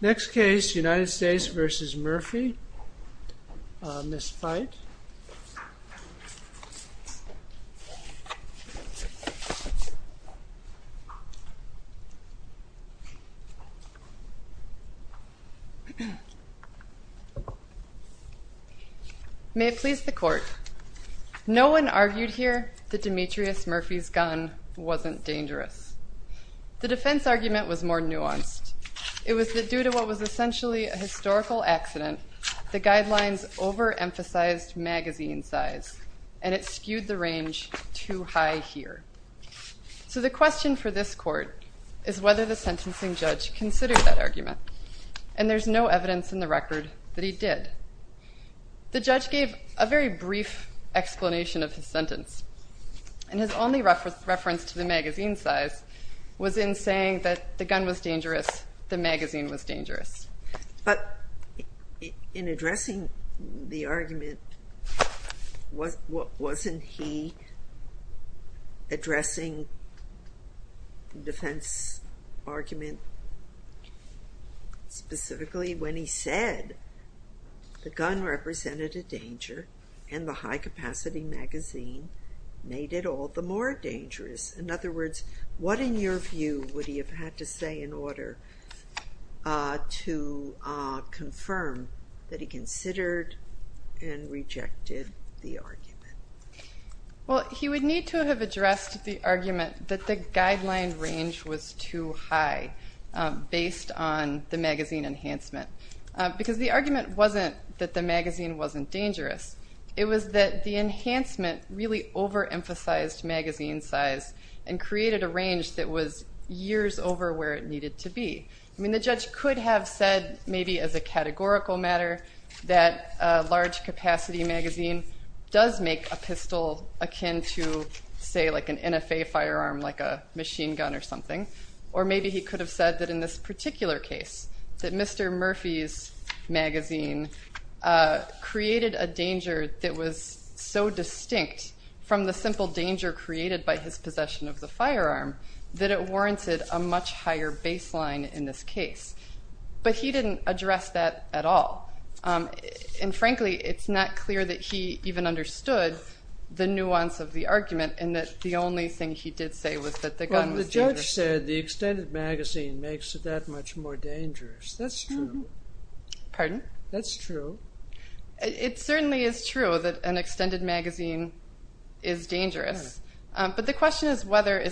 Next case, United States v. Murphy on this fight. May it please the court. No one argued here that Demetrius Murphy's gun wasn't dangerous. The defense argument was more nuanced. It was that due to what was essentially a historical accident, the guidelines overemphasized magazine size, and it skewed the range too high here. So the question for this court is whether the sentencing judge considered that argument, and there's no evidence in the record that he did. The judge gave a very brief explanation of his sentence, and his only reference to the magazine size was in saying that the gun was dangerous, the magazine was dangerous. But in addressing the argument, wasn't he addressing the defense argument Well, he would need to have addressed the argument that the guideline range was too high based on the magazine enhancement. Because the argument wasn't that the magazine wasn't dangerous. It was that the enhancement really overemphasized magazine size and created a range that was years over where it needed to be. I mean, the judge could have said, maybe as a categorical matter, that a large capacity magazine does make a pistol akin to, say, like an NFA firearm, like a machine gun or something. Or maybe he could have said that in this particular case, that Mr. Murphy's magazine created a danger that was so distinct from the simple danger created by his possession of the firearm that it warranted a much higher baseline in this case. But he didn't address that at all. And frankly, it's not clear that he even understood the nuance of the argument and that the only thing he did say was that the gun was dangerous. The judge said the extended magazine makes it that much more dangerous. That's true. Pardon? That's true. It certainly is true that an extended magazine is dangerous. But the question is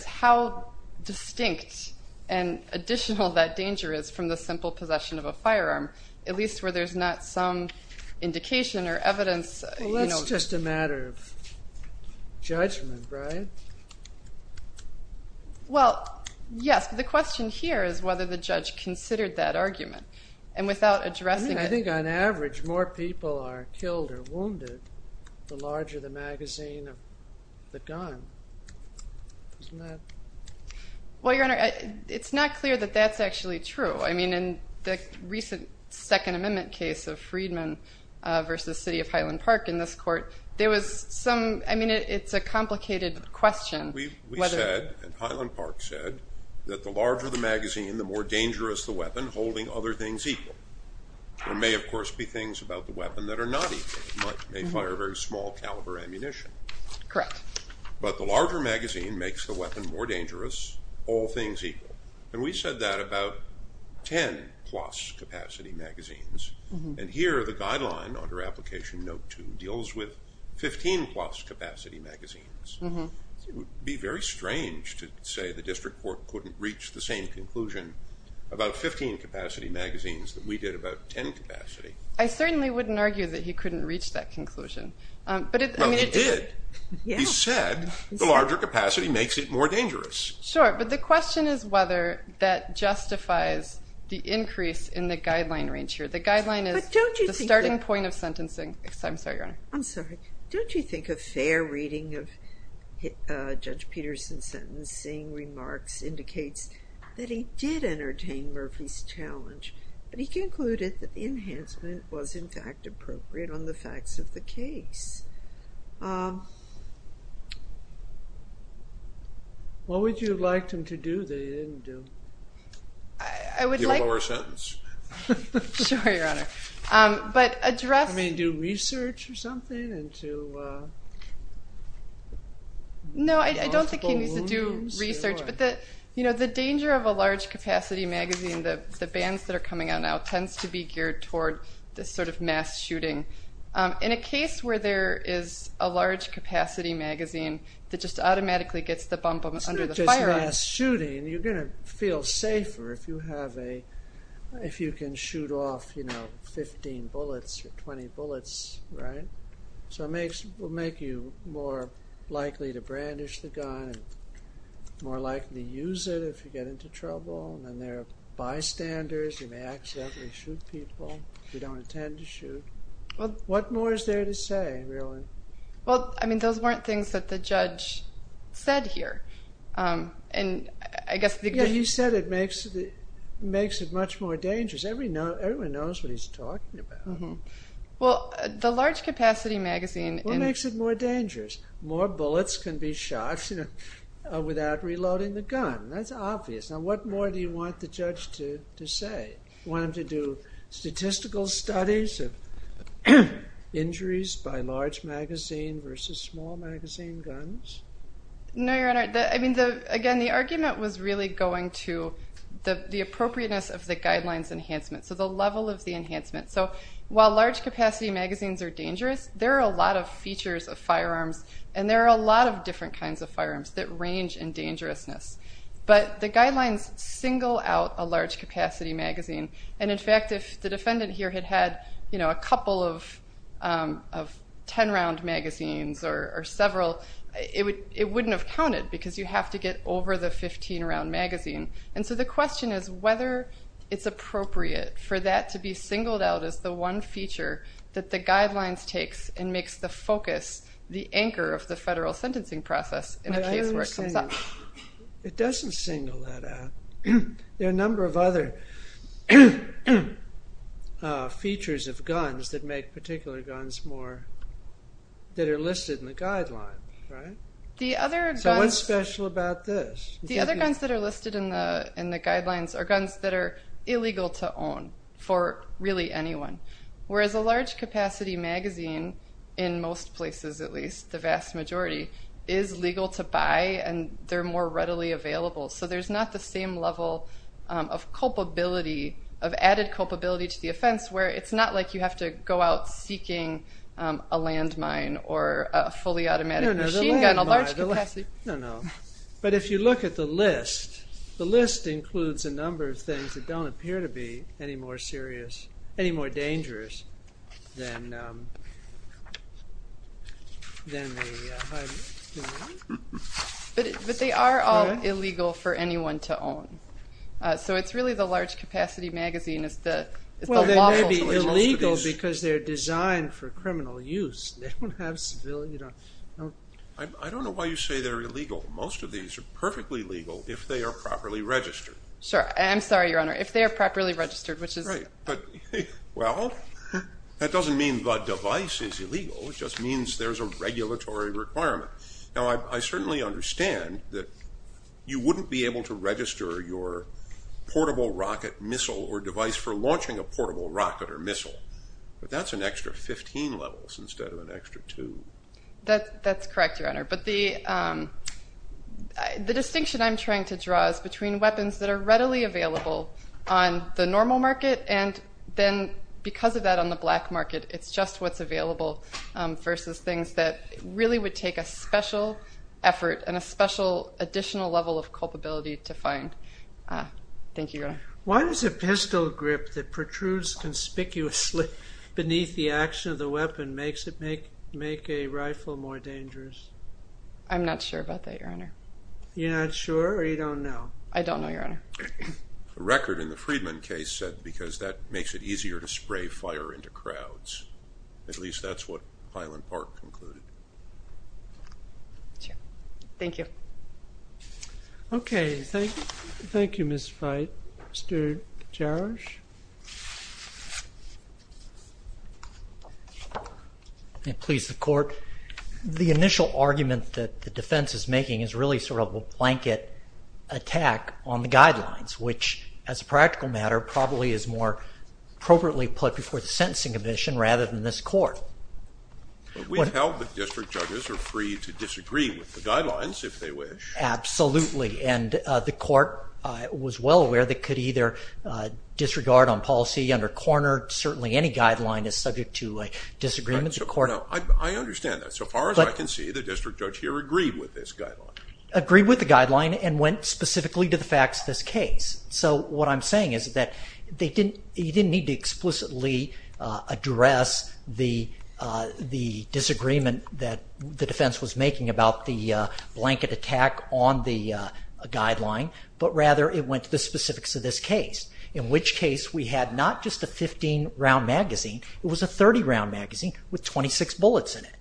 how distinct and additional that danger is from the simple possession of a firearm, at least where there's not some indication or evidence. Well, that's just a matter of judgment, right? Well, yes. But the question here is whether the judge considered that argument. And without addressing it. I mean, I think on average more people are killed or wounded the larger the magazine of the gun. Isn't that? Well, Your Honor, it's not clear that that's actually true. I mean, in the recent Second Amendment case of Freedman versus City of Highland Park in this court, there was some, I mean, it's a complicated question. We said, and Highland Park said, that the larger the magazine, the more dangerous the weapon holding other things equal. There may, of course, be things about the weapon that are not equal. It may fire very small caliber ammunition. Correct. But the larger magazine makes the weapon more dangerous, all things equal. And we said that about 10 plus capacity magazines. And here the guideline under Application Note 2 deals with 15 plus capacity magazines. It would be very strange to say the district court couldn't reach the same conclusion about 15 capacity magazines that we did about 10 capacity. I certainly wouldn't argue that he couldn't reach that conclusion. Well, he did. He said the larger capacity makes it more dangerous. Sure, but the question is whether that justifies the increase in the guideline range here. The guideline is the starting point of sentencing. I'm sorry, Your Honor. I'm sorry. Don't you think a fair reading of Judge Peterson's sentencing remarks indicates that he did entertain Murphy's challenge, but he concluded that the enhancement was, in fact, appropriate on the facts of the case. What would you have liked him to do that he didn't do? Give a lower sentence. Sure, Your Honor. I mean, do research or something? No, I don't think he needs to do research. But the danger of a large capacity magazine, the bans that are coming out now, tends to be geared toward this sort of mass shooting. In a case where there is a large capacity magazine that just automatically gets the bump under the firearm. Mass shooting, you're going to feel safer if you can shoot off, you know, 15 bullets or 20 bullets, right? So it will make you more likely to brandish the gun, more likely to use it if you get into trouble. And then there are bystanders. You may accidentally shoot people if you don't intend to shoot. What more is there to say, really? Well, I mean, those weren't things that the judge said here. And I guess the... Yeah, he said it makes it much more dangerous. Everyone knows what he's talking about. Well, the large capacity magazine... What makes it more dangerous? More bullets can be shot without reloading the gun. That's obvious. Now, what more do you want the judge to say? You want him to do statistical studies of injuries by large magazine versus small magazine guns? No, Your Honor. I mean, again, the argument was really going to the appropriateness of the guidelines enhancement, so the level of the enhancement. So while large capacity magazines are dangerous, there are a lot of features of firearms, and there are a lot of different kinds of firearms that range in dangerousness. But the guidelines single out a large capacity magazine. And, in fact, if the defendant here had had a couple of 10-round magazines or several, it wouldn't have counted because you have to get over the 15-round magazine. And so the question is whether it's appropriate for that to be singled out as the one feature that the guidelines takes and makes the focus, the anchor of the federal sentencing process in a case where it comes up. It doesn't single that out. There are a number of other features of guns that make particular guns more, that are listed in the guidelines. So what's special about this? The other guns that are listed in the guidelines are guns that are illegal to own for really anyone, whereas a large capacity magazine, in most places at least, the vast majority, is legal to buy, and they're more readily available. So there's not the same level of culpability, of added culpability to the offense, where it's not like you have to go out seeking a landmine or a fully automatic machine gun, a large capacity. No, no. But if you look at the list, the list includes a number of things that don't appear to be any more serious, any more dangerous than the high-risk gun. But they are all illegal for anyone to own. So it's really the large capacity magazine is the lawful place to look at these. Well, they may be illegal because they're designed for criminal use. They don't have civilian. I don't know why you say they're illegal. Most of these are perfectly legal if they are properly registered. Sure. I'm sorry, Your Honor. If they are properly registered, which is. Right. Well, that doesn't mean the device is illegal. It just means there's a regulatory requirement. Now, I certainly understand that you wouldn't be able to register your portable rocket missile or device for launching a portable rocket or missile. But that's an extra 15 levels instead of an extra two. That's correct, Your Honor. But the distinction I'm trying to draw is between weapons that are readily available on the normal market and then because of that on the black market, it's just what's available versus things that really would take a special effort and a special additional level of culpability to find. Thank you, Your Honor. Why does a pistol grip that protrudes conspicuously beneath the action of the weapon make a rifle more dangerous? I'm not sure about that, Your Honor. You're not sure or you don't know? I don't know, Your Honor. The record in the Friedman case said because that makes it easier to spray fire into crowds. At least that's what Highland Park concluded. Sure. Thank you. Okay. Thank you, Ms. Veit. Mr. Jarosch? Please, the Court. The initial argument that the defense is making is really sort of a blanket attack on the guidelines, which as a practical matter probably is more appropriately put before the sentencing commission rather than this Court. We've held that district judges are free to disagree with the guidelines if they wish. Absolutely. And the Court was well aware they could either disregard on policy under corner. Certainly any guideline is subject to a disagreement. I understand that. So far as I can see, the district judge here agreed with this guideline. Agreed with the guideline and went specifically to the facts of this case. So what I'm saying is that you didn't need to explicitly address the disagreement that the defense was making about the blanket attack on the guideline, but rather it went to the specifics of this case, in which case we had not just a 15-round magazine. It was a 30-round magazine with 26 bullets in it.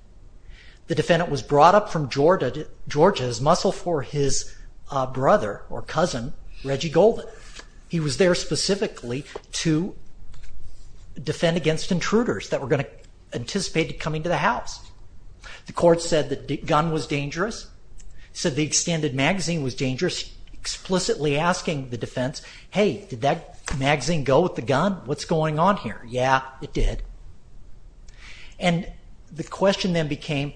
The defendant was brought up from Georgia as muscle for his brother or cousin, Reggie Goldman. He was there specifically to defend against intruders that were going to anticipate coming to the house. The Court said the gun was dangerous, said the extended magazine was dangerous, explicitly asking the defense, hey, did that magazine go with the gun? What's going on here? Yeah, it did. And the question then became,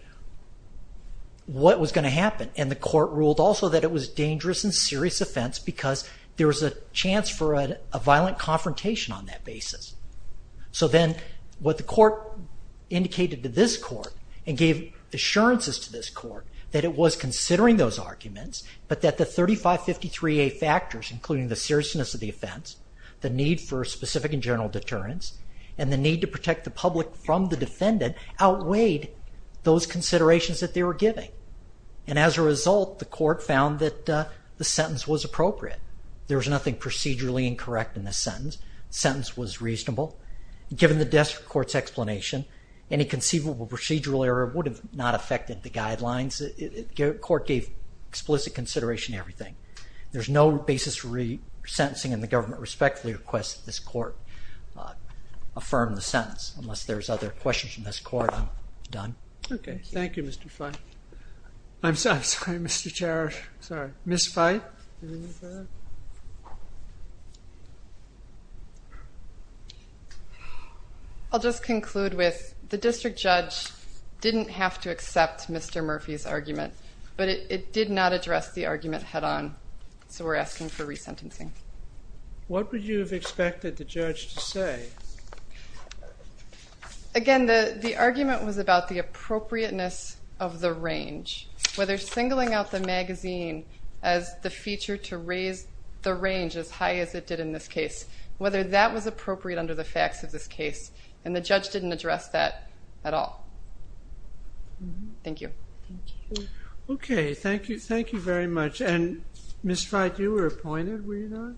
what was going to happen? And the Court ruled also that it was a dangerous and serious offense because there was a chance for a violent confrontation on that basis. So then what the Court indicated to this Court and gave assurances to this Court, that it was considering those arguments, but that the 3553A factors, including the seriousness of the offense, the need for specific and general deterrence, and the need to protect the public from the defendant, outweighed those considerations that they were giving. And as a result, the Court found that the sentence was appropriate. There was nothing procedurally incorrect in the sentence. The sentence was reasonable. Given the desperate Court's explanation, any conceivable procedural error would have not affected the guidelines. The Court gave explicit consideration to everything. There's no basis for resentencing, and the Government respectfully requests that this Court affirm the sentence. Unless there's other questions from this Court, I'm done. Okay, thank you, Mr. Feith. I'm sorry, Mr. Chair. Sorry. Ms. Feith? I'll just conclude with the district judge didn't have to accept Mr. Murphy's argument, but it did not address the argument head-on, so we're asking for resentencing. What would you have expected the judge to say? Again, the argument was about the appropriateness of the range. Whether singling out the magazine as the feature to raise the range as high as it did in this case, whether that was appropriate under the facts of this case, and the judge didn't address that at all. Thank you. Okay, thank you very much. Ms. Feith, you were appointed, were you not?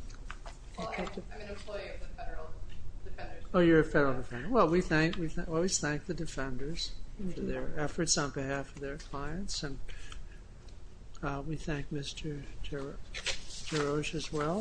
I'm an employee of the Federal Defenders. Oh, you're a Federal Defender. Well, we always thank the Defenders for their efforts on behalf of their clients, and we thank Mr. Geroge as well.